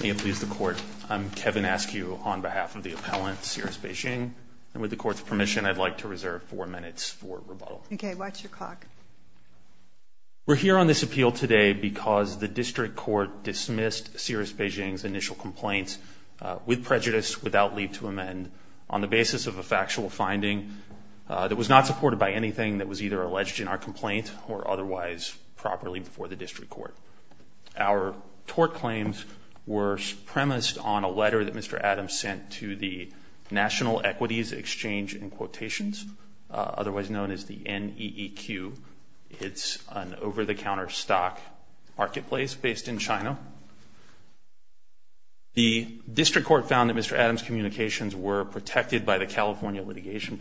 May it please the Court, I'm Kevin Askew on behalf of the appellant, Cirrus Beijing, and with the Court's permission, I'd like to reserve four minutes for rebuttal. Okay, watch your clock. We're here on this appeal today because the District Court dismissed Cirrus Beijing's initial complaint with prejudice without leave to amend on the basis of a factual finding that was not supported by anything that was either the District Court. Our tort claims were premised on a letter that Mr. Adams sent to the National Equities Exchange in quotations, otherwise known as the NEEQ. It's an over-the-counter stock marketplace based in China. The District Court found that Mr. Adams' communications were protected by the California application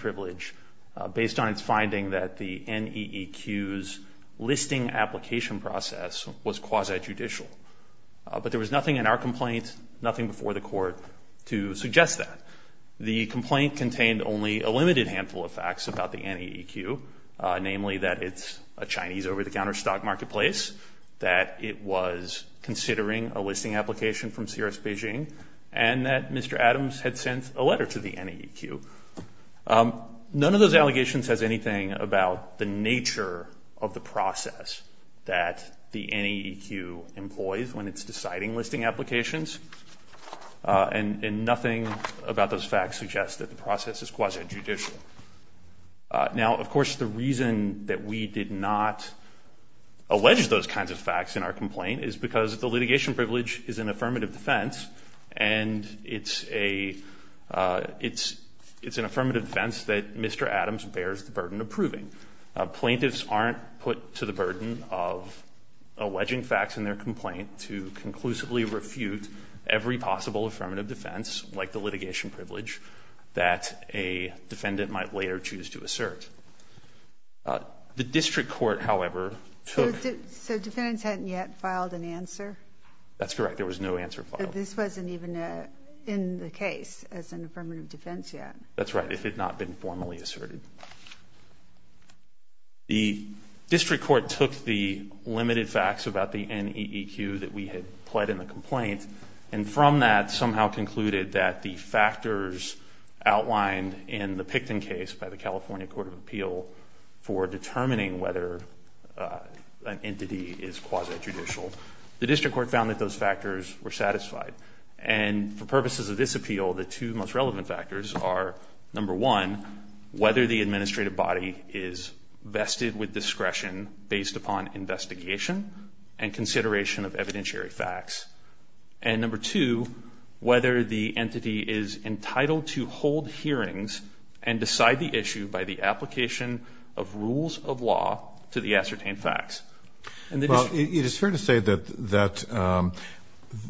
process was quasi-judicial. But there was nothing in our complaint, nothing before the Court, to suggest that. The complaint contained only a limited handful of facts about the NEEQ, namely that it's a Chinese over-the-counter stock marketplace, that it was considering a listing application from Cirrus Beijing, and that Mr. Adams had sent a letter to the NEEQ. None of those allegations has anything about the nature of the process that the NEEQ employs when it's deciding listing applications, and nothing about those facts suggests that the process is quasi-judicial. Now, of course, the reason that we did not allege those kinds of facts in our complaint is because the litigation privilege is an affirmative defense, and it's a — it's an affirmative defense that Mr. Adams bears the burden of proving. Plaintiffs aren't put to the burden of alleging facts in their complaint to conclusively refute every possible affirmative defense, like the litigation privilege, that a defendant might later choose to assert. The District Court, however, took — So defendants hadn't yet filed an answer? That's correct. There was no answer filed. But this wasn't even in the case as an affirmative defense yet. That's right. It had not been formally asserted. The District Court took the limited facts about the NEEQ that we had pled in the complaint, and from that somehow concluded that the factors outlined in the Picton case by the California Court of Appeal for determining whether an entity is quasi-judicial, the District Court found that those factors were satisfied. And for purposes of this appeal, the two most relevant factors are, number one, whether the administrative body is vested with discretion based upon investigation and consideration of evidentiary facts, and number two, whether the entity is entitled to hold hearings and decide the issue by the application of rules of law to the Well, it is fair to say that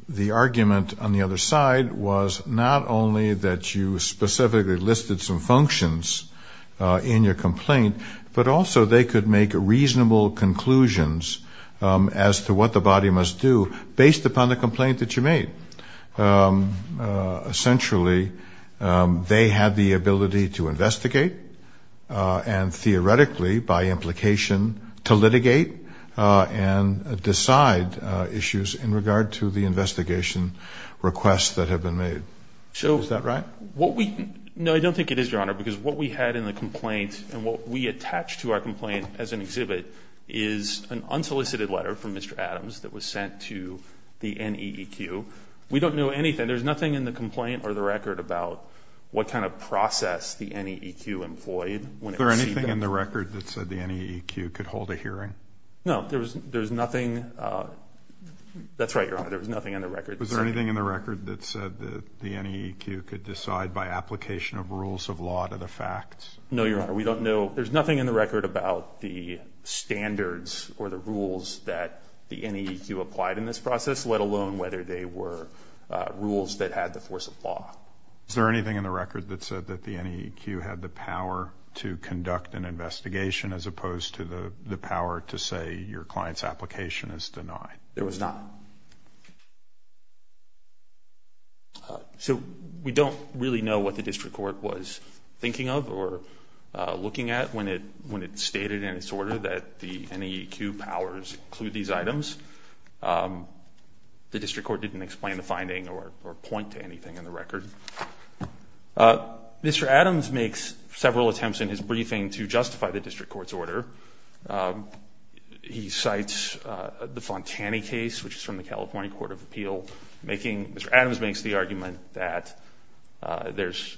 the argument on the other side was not only that you specifically listed some functions in your complaint, but also they could make reasonable conclusions as to what the body must do based upon the complaint that you made. Essentially, they had the ability to investigate, and theoretically, by implication, to litigate and decide issues in regard to the investigation requests that have been made. Is that right? No, I don't think it is, Your Honor, because what we had in the complaint and what we attached to our complaint as an exhibit is an unsolicited letter from Mr. Adams that was sent to the NEEQ. We don't know anything. There's nothing in the complaint or the record about what kind of process the NEEQ employed when it received that letter. Was there anything in the record that said the NEEQ could hold a hearing? No, there was nothing. That's right, Your Honor, there was nothing in the record. Was there anything in the record that said that the NEEQ could decide by application of rules of law to the facts? No, Your Honor, we don't know. There's nothing in the record about the standards or the rules that the NEEQ applied in this process, let alone whether they were rules that had the force of law. Is there anything in the record that said that the NEEQ had the power to conduct an investigation as opposed to the power to say your client's application is denied? There was not. So we don't really know what the District Court was thinking of or looking at when it stated in its order that the NEEQ powers include these items. The District Court didn't explain the finding or point to anything in the record. Mr. Adams makes several attempts in his briefing to justify the District Court's order. He cites the Fontani case, which is from the California Court of Appeal. Mr. Adams makes the argument that there's,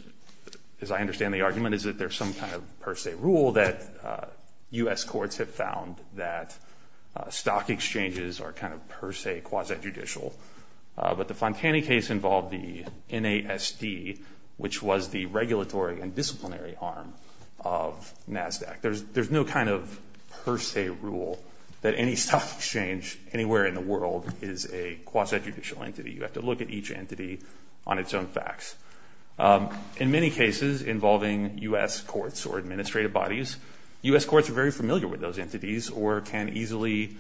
as I understand the argument, is that there's some kind of per se rule that U.S. courts have found that stock exchanges are kind of per se quasi-judicial. But the Fontani case involved the NASD, which was the regulatory and disciplinary arm of NASDAQ. There's no kind of per se rule that any stock exchange anywhere in the world is a quasi-judicial entity. You have to look at each entity on its own facts. In many cases involving U.S. courts or administrative bodies, U.S. courts are very familiar with those entities or can easily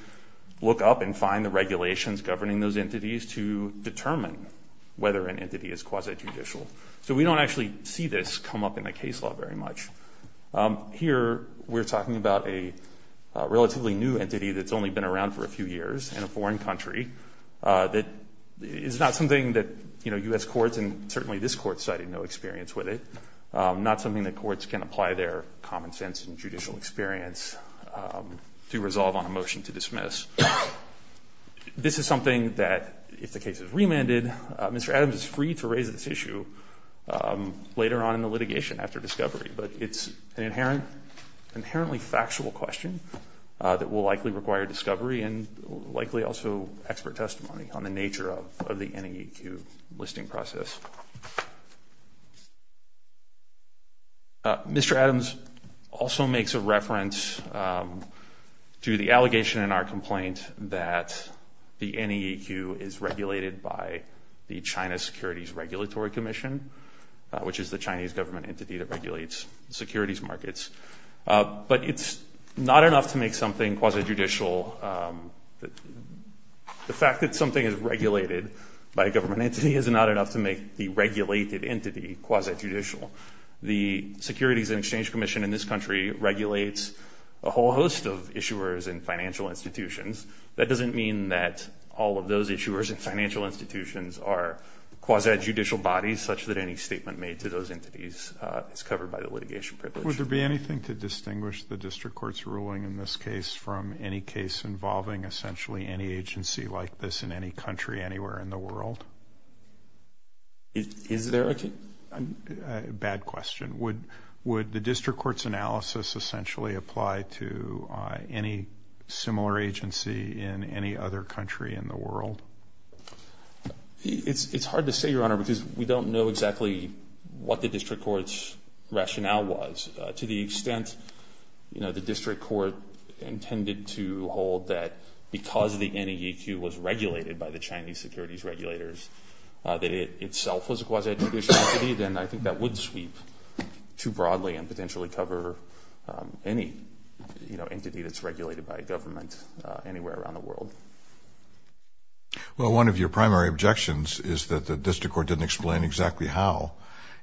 look up and find the regulations governing those entities to determine whether an entity is quasi-judicial. So we don't actually see this come up in a case law very much. Here we're talking about a relatively new entity that's only been around for a few years in a foreign country that is not something that U.S. courts and jurisdictions can apply their common sense and judicial experience to resolve on a motion to dismiss. This is something that, if the case is remanded, Mr. Adams is free to raise this issue later on in the litigation after discovery. But it's an inherently factual question that will likely require discovery and likely also expert testimony on the nature of the NAEQ listing process. Mr. Adams also makes a reference to the allegation in our complaint that the NAEQ is regulated by the China Securities Regulatory Commission, which is the Chinese government entity that regulates securities markets. But it's not enough to make something quasi-judicial. The fact that something is regulated by a government entity is not enough to make the regulated entity quasi-judicial. The Securities and Exchange Commission in this country regulates a whole host of issuers and financial institutions. That doesn't mean that all of those issuers and financial institutions are quasi-judicial bodies such that any statement made to those entities is covered by the litigation privilege. Would there be anything to distinguish the district court's ruling in this case from any case involving essentially any agency like this in any country anywhere in the world? Is there a case? Bad question. Would the district court's analysis essentially apply to any similar agency in any other country in the world? It's hard to say, Your Honor, because we don't know exactly what the district court's rationale was. To the extent, you know, the district court intended to hold that because the Chinese securities regulators that it itself was a quasi-judicial entity, then I think that would sweep too broadly and potentially cover any, you know, entity that's regulated by a government anywhere around the world. Well, one of your primary objections is that the district court didn't explain exactly how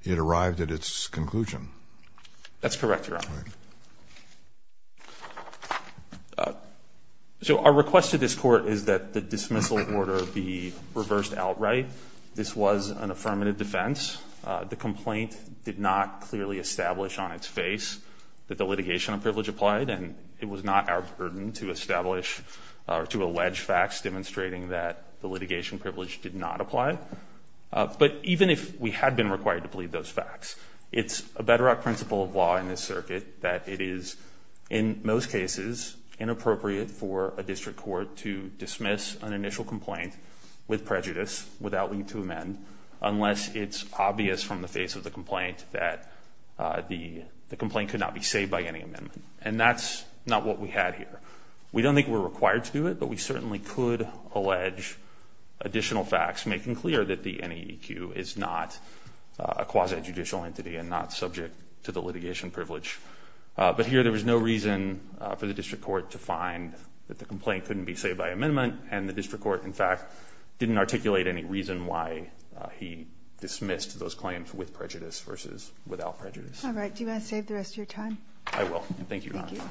it arrived at its conclusion. That's correct, Your Honor. So our request to this court is that the dismissal order be reversed outright. This was an affirmative defense. The complaint did not clearly establish on its face that the litigation privilege applied, and it was not our burden to establish or to allege facts demonstrating that the litigation privilege did not apply. But even if we had been required to plead those facts, it's a bedrock principle of law in this circuit that it is, in most cases, inappropriate for a district court to dismiss an initial complaint with prejudice without needing to amend unless it's obvious from the face of the complaint that the complaint could not be saved by any amendment. And that's not what we had here. We don't think we're required to do it, but we certainly could allege additional facts making clear that the NEAQ is not a quasi-judicial entity and not subject to the litigation privilege. But here there was no reason for the district court to find that the complaint couldn't be saved by amendment, and the district court, in fact, didn't articulate any reason why he dismissed those claims with prejudice versus without prejudice. All right. Do you want to save the rest of your time? I will. Thank you, Your Honor. Thank you.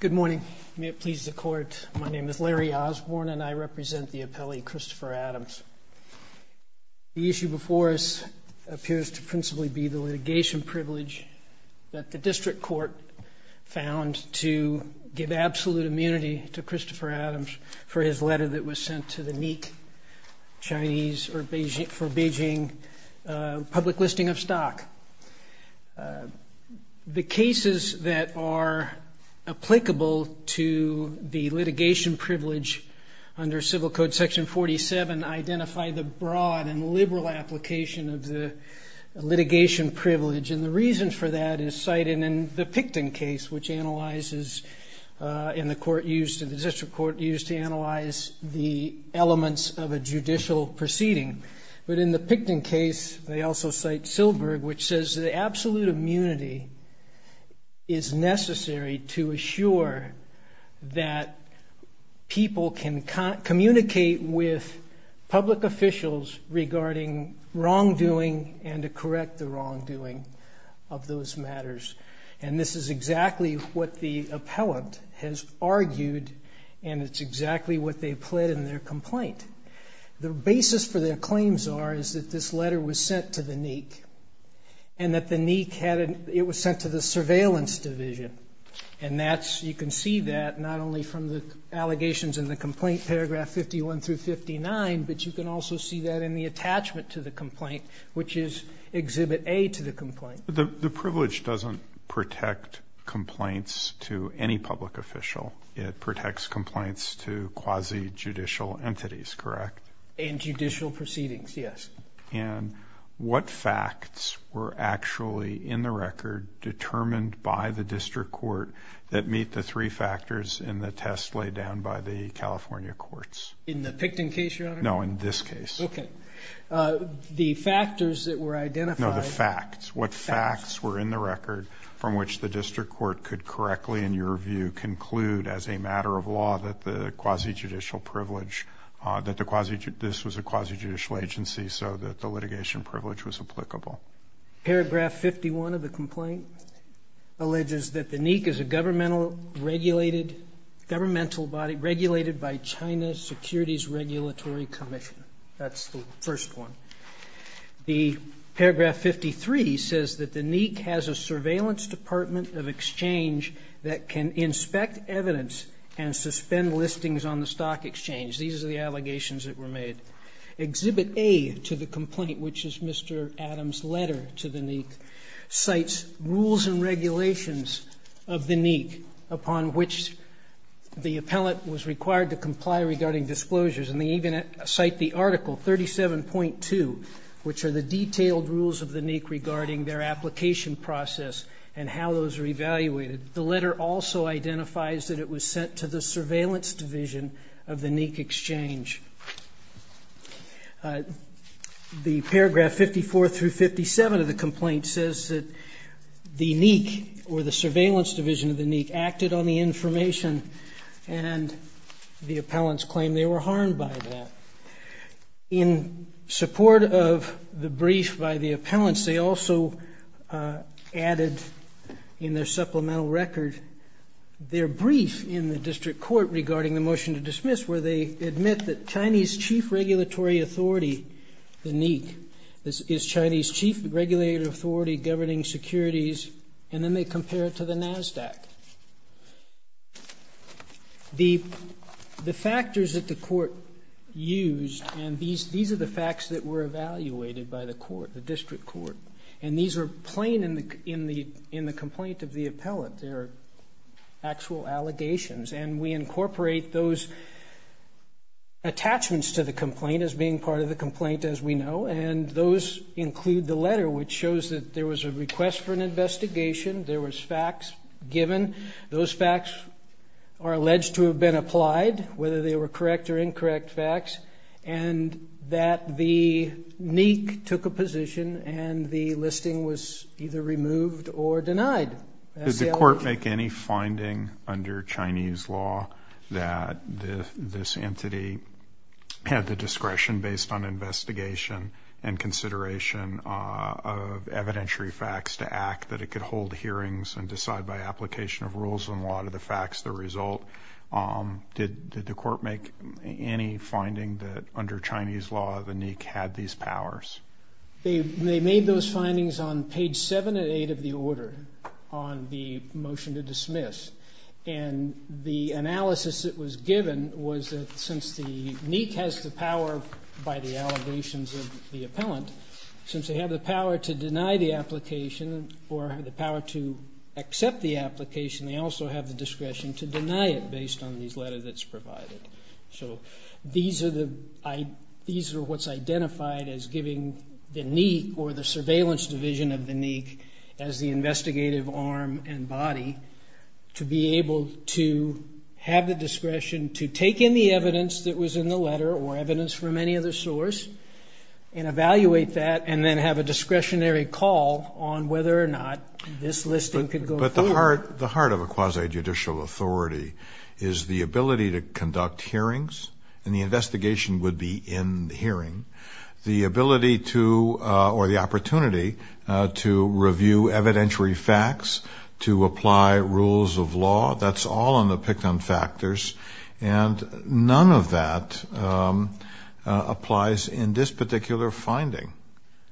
Good morning. May it please the Court, my name is Larry Osborne, and I represent the appellee Christopher Adams. The issue before us appears to principally be the litigation privilege that the district court found to give absolute immunity to Christopher Adams for his letter that was sent to the NEAQ, Chinese, for Beijing, public listing of stock. The cases that are applicable to the litigation privilege under Civil Code Section 47 identify the broad and liberal application of the litigation privilege, and the reason for that is cited in the Picton case, which analyzes and the district court used to analyze the elements of a judicial proceeding. But in the Picton case, they also cite Silberg, which says that absolute immunity is necessary to assure that people can communicate with public officials regarding wrongdoing and to correct the wrongdoing of those matters. And this is exactly what the appellant has argued, and it's exactly what they pled in their complaint. The basis for their claims are, is that this letter was sent to the NEAQ, and that the NEAQ had a, it was sent to the surveillance division. And that's, you can see that not only from the allegations in the complaint paragraph 51 through 59, but you can also see that in the attachment to the complaint, which is Exhibit A to the complaint. The privilege doesn't protect complaints to any public official. It protects complaints to quasi-judicial entities, correct? And judicial proceedings, yes. And what facts were actually in the record determined by the district court that meet the three factors in the test laid down by the California courts? In the Picton case, Your Honor? No, in this case. Okay. The factors that were identified. No, the facts. What facts were in the record from which the district court could correctly, in your view, conclude as a matter of law that the quasi-judicial privilege, that the quasi-judicial, this was a quasi-judicial agency, so that the litigation privilege was applicable? Paragraph 51 of the complaint alleges that the NEAQ is a governmental regulated, governmental body regulated by China's Securities Regulatory Commission. That's the first one. The paragraph 53 says that the NEAQ has a surveillance department of exchange that can inspect evidence and suspend listings on the stock exchange. These are the allegations that were made. Exhibit A to the complaint, which is Mr. Adams' letter to the NEAQ, cites rules and regulations of the NEAQ upon which the appellant was required to comply regarding disclosures. And they even cite the article 37.2, which are the detailed rules of the NEAQ regarding their application process and how those are evaluated. The letter also identifies that it was sent to the surveillance division of the NEAQ exchange. The paragraph 54 through 57 of the complaint says that the NEAQ or the surveillance division of the NEAQ acted on the information and the appellant's claim they were harmed by that. In support of the brief by the appellants, they also added in their supplemental record their brief in the district court regarding the motion to dismiss where they admit that Chinese chief regulatory authority, the NEAQ, is Chinese chief regulatory authority governing securities, and then they compare it to the NASDAQ. The factors that the court used, and these are the facts that were evaluated by the court, the district court, and these are plain in the complaint of the appellant. They're actual allegations, and we incorporate those attachments to the complaint as being part of the complaint, as we know, and those include the letter, which facts given. Those facts are alleged to have been applied, whether they were correct or incorrect facts, and that the NEAQ took a position and the listing was either removed or denied. Did the court make any finding under Chinese law that this entity had the discretion based on investigation and consideration of evidentiary facts to act that it could hold hearings and decide by application of rules and law to the facts the result? Did the court make any finding that under Chinese law the NEAQ had these powers? They made those findings on page 7 and 8 of the order on the motion to dismiss, and the analysis that was given was that since the NEAQ has the power by the court, the power to accept the application, they also have the discretion to deny it based on these letters that's provided. So these are what's identified as giving the NEAQ or the surveillance division of the NEAQ as the investigative arm and body to be able to have the discretion to take in the evidence that was in the letter or evidence from any other source and evaluate that and then have a discretionary call on whether or not this listing could go forward. But the heart of a quasi-judicial authority is the ability to conduct hearings and the investigation would be in the hearing. The ability to or the opportunity to review evidentiary facts, to apply rules of the law, to make a determination. So the NEAQ has a lot of information in this particular finding,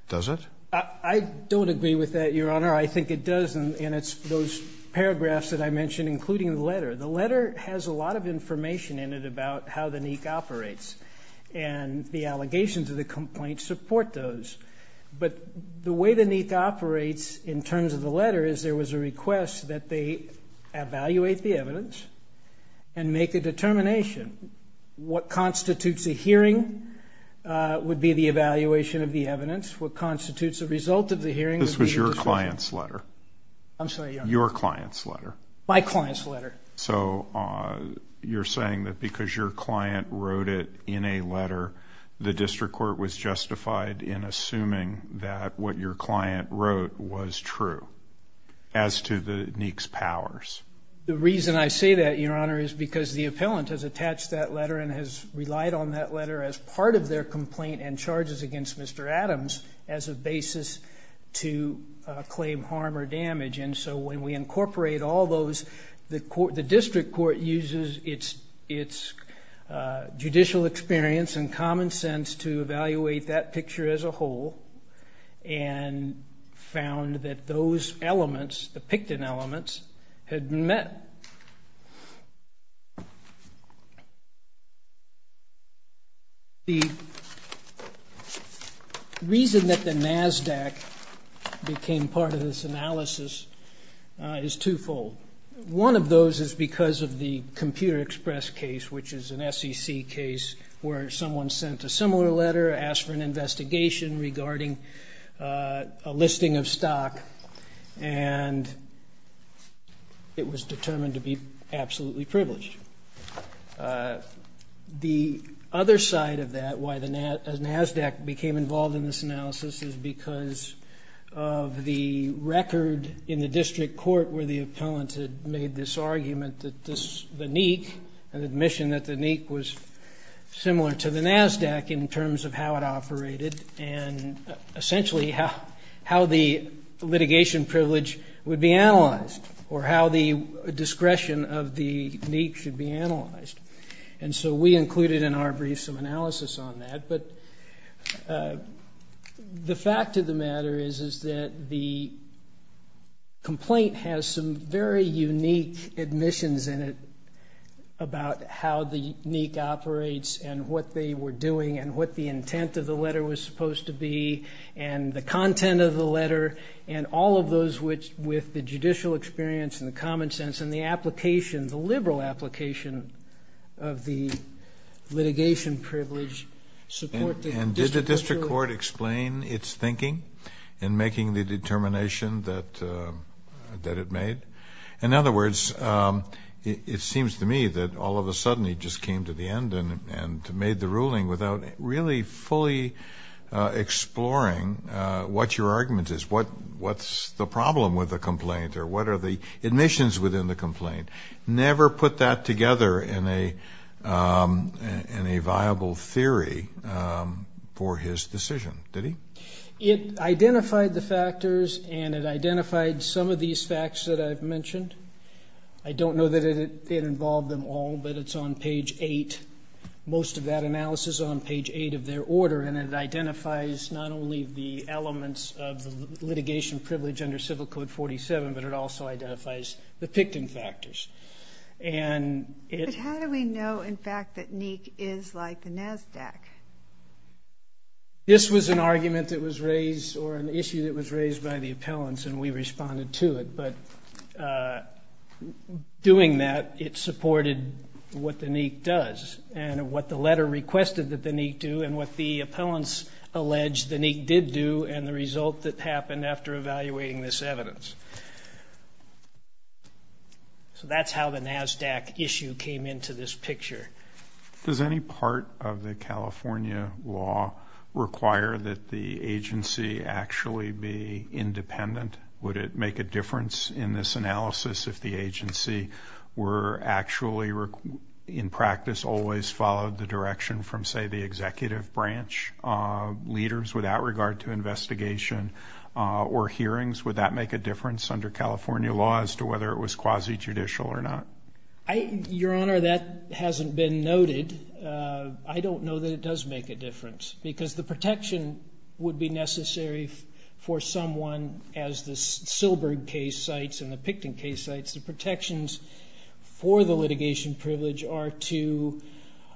does it? I don't agree with that, Your Honor. I think it does, and it's those paragraphs that I mentioned, including the letter. The letter has a lot of information in it about how the NEAQ operates and the allegations of the complaint support those. But the way the NEAQ operates in terms of the letter is there was a request that they evaluate the evidence and make a determination. What constitutes a hearing would be the evaluation of the evidence. What constitutes a result of the hearing would be the discretion. This was your client's letter. I'm sorry, Your Honor. Your client's letter. My client's letter. So you're saying that because your client wrote it in a letter, the district court was justified in assuming that what your client wrote was true. As to the NEAQ's powers. The reason I say that, Your Honor, is because the appellant has attached that letter and has relied on that letter as part of their complaint and charges against Mr. Adams as a basis to claim harm or damage. And so when we incorporate all those, the district court uses its judicial experience and common sense to evaluate that picture as a whole and found that those elements, the Picton elements, had been met. The reason that the NASDAQ became part of this analysis is twofold. One of those is because of the Computer Express case, which is an SEC case, where someone sent a similar letter, asked for an investigation regarding a And it was determined to be absolutely privileged. The other side of that, why the NASDAQ became involved in this analysis, is because of the record in the district court where the appellant had made this argument that the NEAQ, an admission that the NEAQ was similar to the NASDAQ in terms of how it operated and essentially how the litigation privilege would be analyzed or how the discretion of the NEAQ should be analyzed. And so we included in our brief some analysis on that. But the fact of the matter is that the complaint has some very unique admissions in it about how the NEAQ operates and what they were doing and what the intent of the letter was supposed to be and the content of the letter and all of those with the judicial experience and the common sense and the application, the liberal application of the litigation privilege. And did the district court explain its thinking in making the determination that it made? In other words, it seems to me that all of a sudden he just came to the end and made the ruling without really fully exploring what your argument is, what's the problem with the complaint or what are the admissions within the complaint. Never put that together in a viable theory for his decision, did he? It identified the factors and it identified some of these facts that I've mentioned. I don't know that it involved them all, but it's on page 8. Most of that analysis is on page 8 of their order, and it identifies not only the elements of the litigation privilege under Civil Code 47, but it also identifies the PICTN factors. But how do we know, in fact, that NEAQ is like the NASDAQ? This was an argument that was raised or an issue that was raised by the appellants and we responded to it. But doing that, it supported what the NEAQ does and what the letter requested that the NEAQ do and what the appellants alleged the NEAQ did do and the result that happened after evaluating this evidence. So that's how the NASDAQ issue came into this picture. Does any part of the California law require that the agency actually be independent? Would it make a difference in this analysis if the agency were actually, in practice, always followed the direction from, say, the executive branch leaders without regard to investigation or hearings? Would that make a difference under California law as to whether it was quasi-judicial or not? Your Honor, that hasn't been noted. I don't know that it does make a difference because the protection would be necessary for someone as the Silberg case cites and the PICTN case cites, the protections for the litigation privilege are to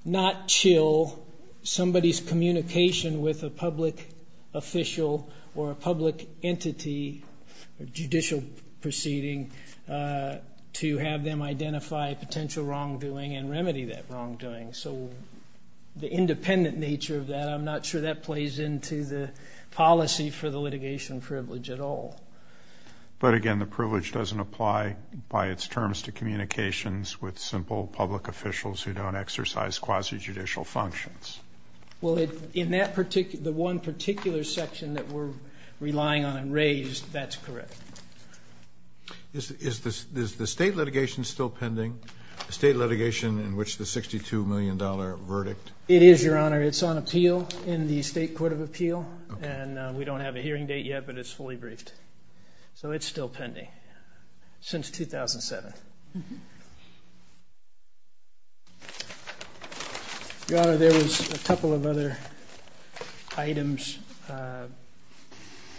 not chill somebody's communication with a public official or a public entity or judicial proceeding to have them identify potential wrongdoing and remedy that wrongdoing. So the independent nature of that, I'm not sure that plays into the policy for the litigation privilege at all. But again, the privilege doesn't apply by its terms to communications with simple public officials who don't exercise quasi-judicial functions. Well, the one particular section that we're relying on and raised, that's correct. Is the state litigation still pending, the state litigation in which the $62 million verdict? It is, Your Honor. It's on appeal in the State Court of Appeal. And we don't have a hearing date yet, but it's fully briefed. So it's still pending since 2007. Your Honor, there was a couple of other items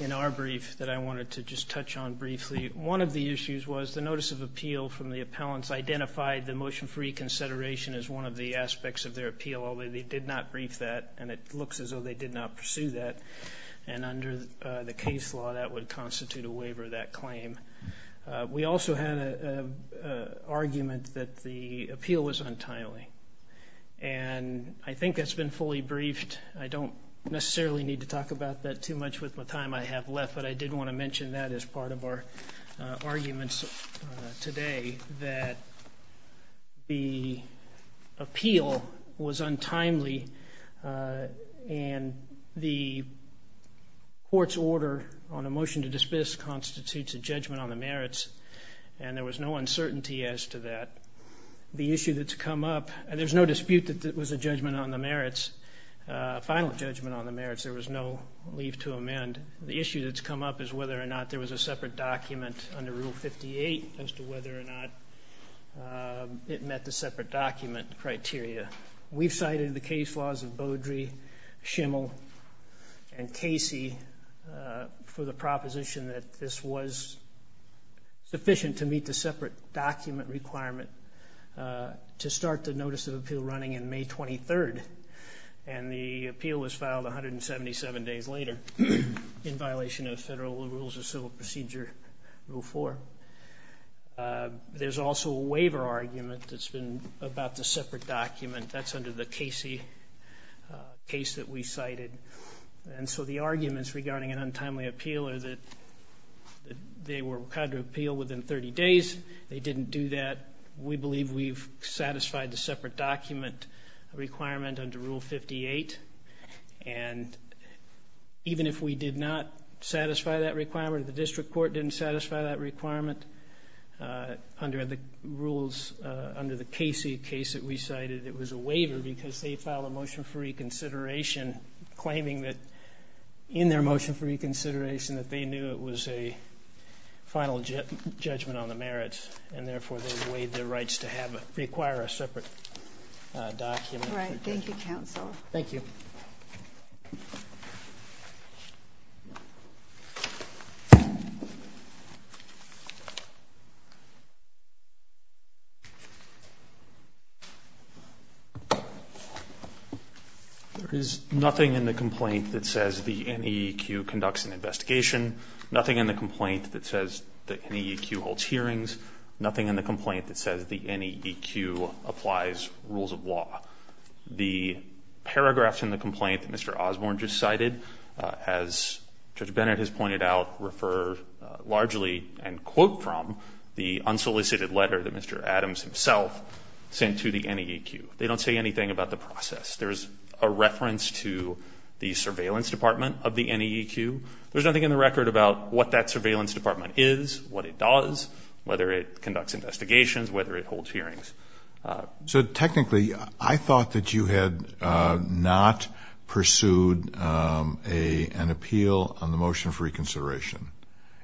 in our brief that I wanted to just touch on briefly. One of the issues was the notice of appeal from the appellants identified the motion for reconsideration as one of the aspects of their appeal, although they did not brief that, and it looks as though they did not pursue that. And under the case law, that would constitute a waiver of that claim. We also had an argument that the appeal was untimely, and I think that's been fully briefed. I don't necessarily need to talk about that too much with the time I have left, but I did want to mention that as part of our arguments today, that the appeal was untimely, and the court's order on a motion to dismiss constitutes a judgment on the merits, and there was no uncertainty as to that. The issue that's come up, and there's no dispute that it was a judgment on the merits, a final judgment on the merits. There was no leave to amend. The issue that's come up is whether or not there was a separate document under Rule 58 as to whether or not it met the separate document criteria. We've cited the case laws of Beaudry, Schimel, and Casey for the proposition that this was sufficient to meet the separate document requirement to start the notice of appeal running on May 23rd, and the appeal was filed 177 days later in violation of Federal Rules of Civil Procedure, Rule 4. There's also a waiver argument that's been about the separate document. That's under the Casey case that we cited. And so the arguments regarding an untimely appeal are that they were required to appeal within 30 days. They didn't do that. We believe we've satisfied the separate document requirement under Rule 58, and even if we did not satisfy that requirement, or the district court didn't satisfy that requirement under the rules, under the Casey case that we cited, it was a waiver because they filed a motion for reconsideration claiming that in their motion for reconsideration that they knew it was a final judgment on the merits, and therefore they waived their rights to require a separate document. All right. Thank you, counsel. Thank you. Thank you. There is nothing in the complaint that says the NEQ conducts an investigation, nothing in the complaint that says the NEQ holds hearings, nothing in the complaint that says the NEQ applies rules of law. The paragraphs in the complaint that Mr. Osborne just cited, as Judge Bennett has pointed out, refer largely and quote from the unsolicited letter that Mr. Adams himself sent to the NEQ. They don't say anything about the process. There's a reference to the surveillance department of the NEQ. There's nothing in the record about what that surveillance department is, what it does, whether it conducts investigations, whether it holds hearings. So technically, I thought that you had not pursued an appeal on the motion for reconsideration.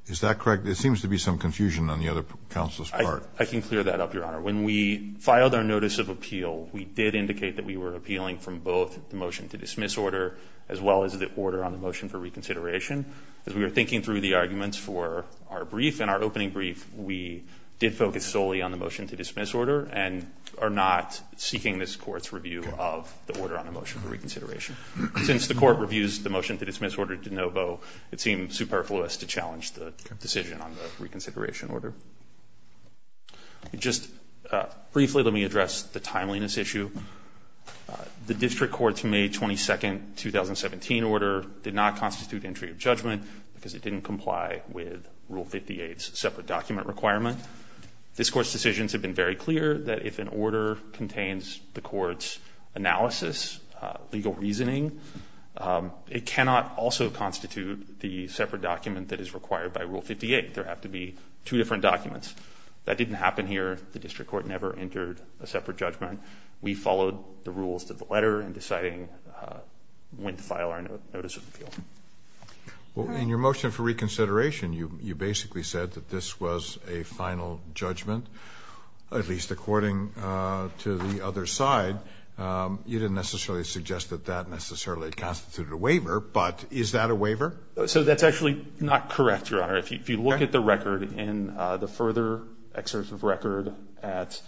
Is that correct? There seems to be some confusion on the other counsel's part. I can clear that up, Your Honor. When we filed our notice of appeal, we did indicate that we were appealing from both the motion to dismiss order as well as the order on the motion for reconsideration. As we were thinking through the arguments for our brief and our opening brief, we did focus solely on the motion to dismiss order and are not seeking this Court's review of the order on the motion for reconsideration. Since the Court reviews the motion to dismiss order de novo, it seemed superfluous to challenge the decision on the reconsideration order. Just briefly, let me address the timeliness issue. The district court's May 22, 2017 order did not constitute entry of judgment because it didn't comply with Rule 58's separate document requirement. This Court's decisions have been very clear that if an order contains the Court's analysis, legal reasoning, it cannot also constitute the separate document that is required by Rule 58. There have to be two different documents. That didn't happen here. The district court never entered a separate judgment. We followed the rules to the letter in deciding when to file our notice of appeal. In your motion for reconsideration, you basically said that this was a final judgment, at least according to the other side. You didn't necessarily suggest that that necessarily constituted a waiver, but is that a waiver? That's actually not correct, Your Honor. If you look at the record in the further excerpt of record at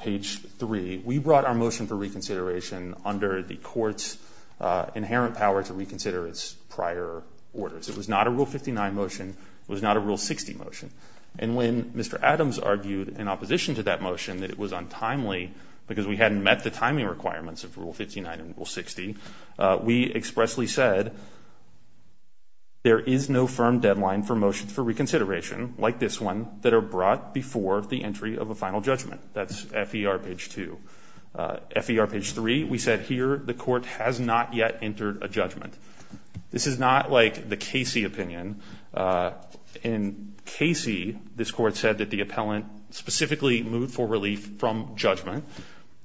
page 3, we brought our motion for reconsideration under the Court's inherent power to reconsider its prior orders. It was not a Rule 59 motion. It was not a Rule 60 motion. And when Mr. Adams argued in opposition to that motion that it was untimely because we hadn't met the timing requirements of Rule 59 and Rule 60, we expressly said there is no firm deadline for motions for reconsideration like this one that are brought before the entry of a final judgment. That's FER page 2. FER page 3, we said here the Court has not yet entered a judgment. This is not like the Casey opinion. In Casey, this Court said that the appellant specifically moved for relief from judgment,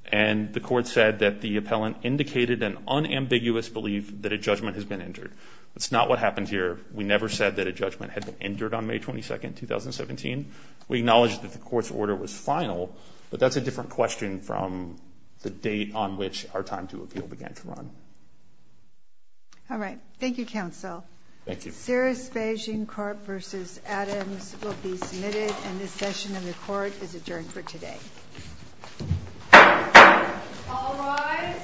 and the Court said that the appellant indicated an unambiguous belief that a judgment has been entered. That's not what happened here. We never said that a judgment had been entered on May 22, 2017. We acknowledged that the Court's order was final, but that's a different question from the date on which our time to appeal began to run. All right. Thank you, Counsel. Thank you. Serious Beijing Court v. Adams will be submitted, and this session of the Court is adjourned for today. All rise.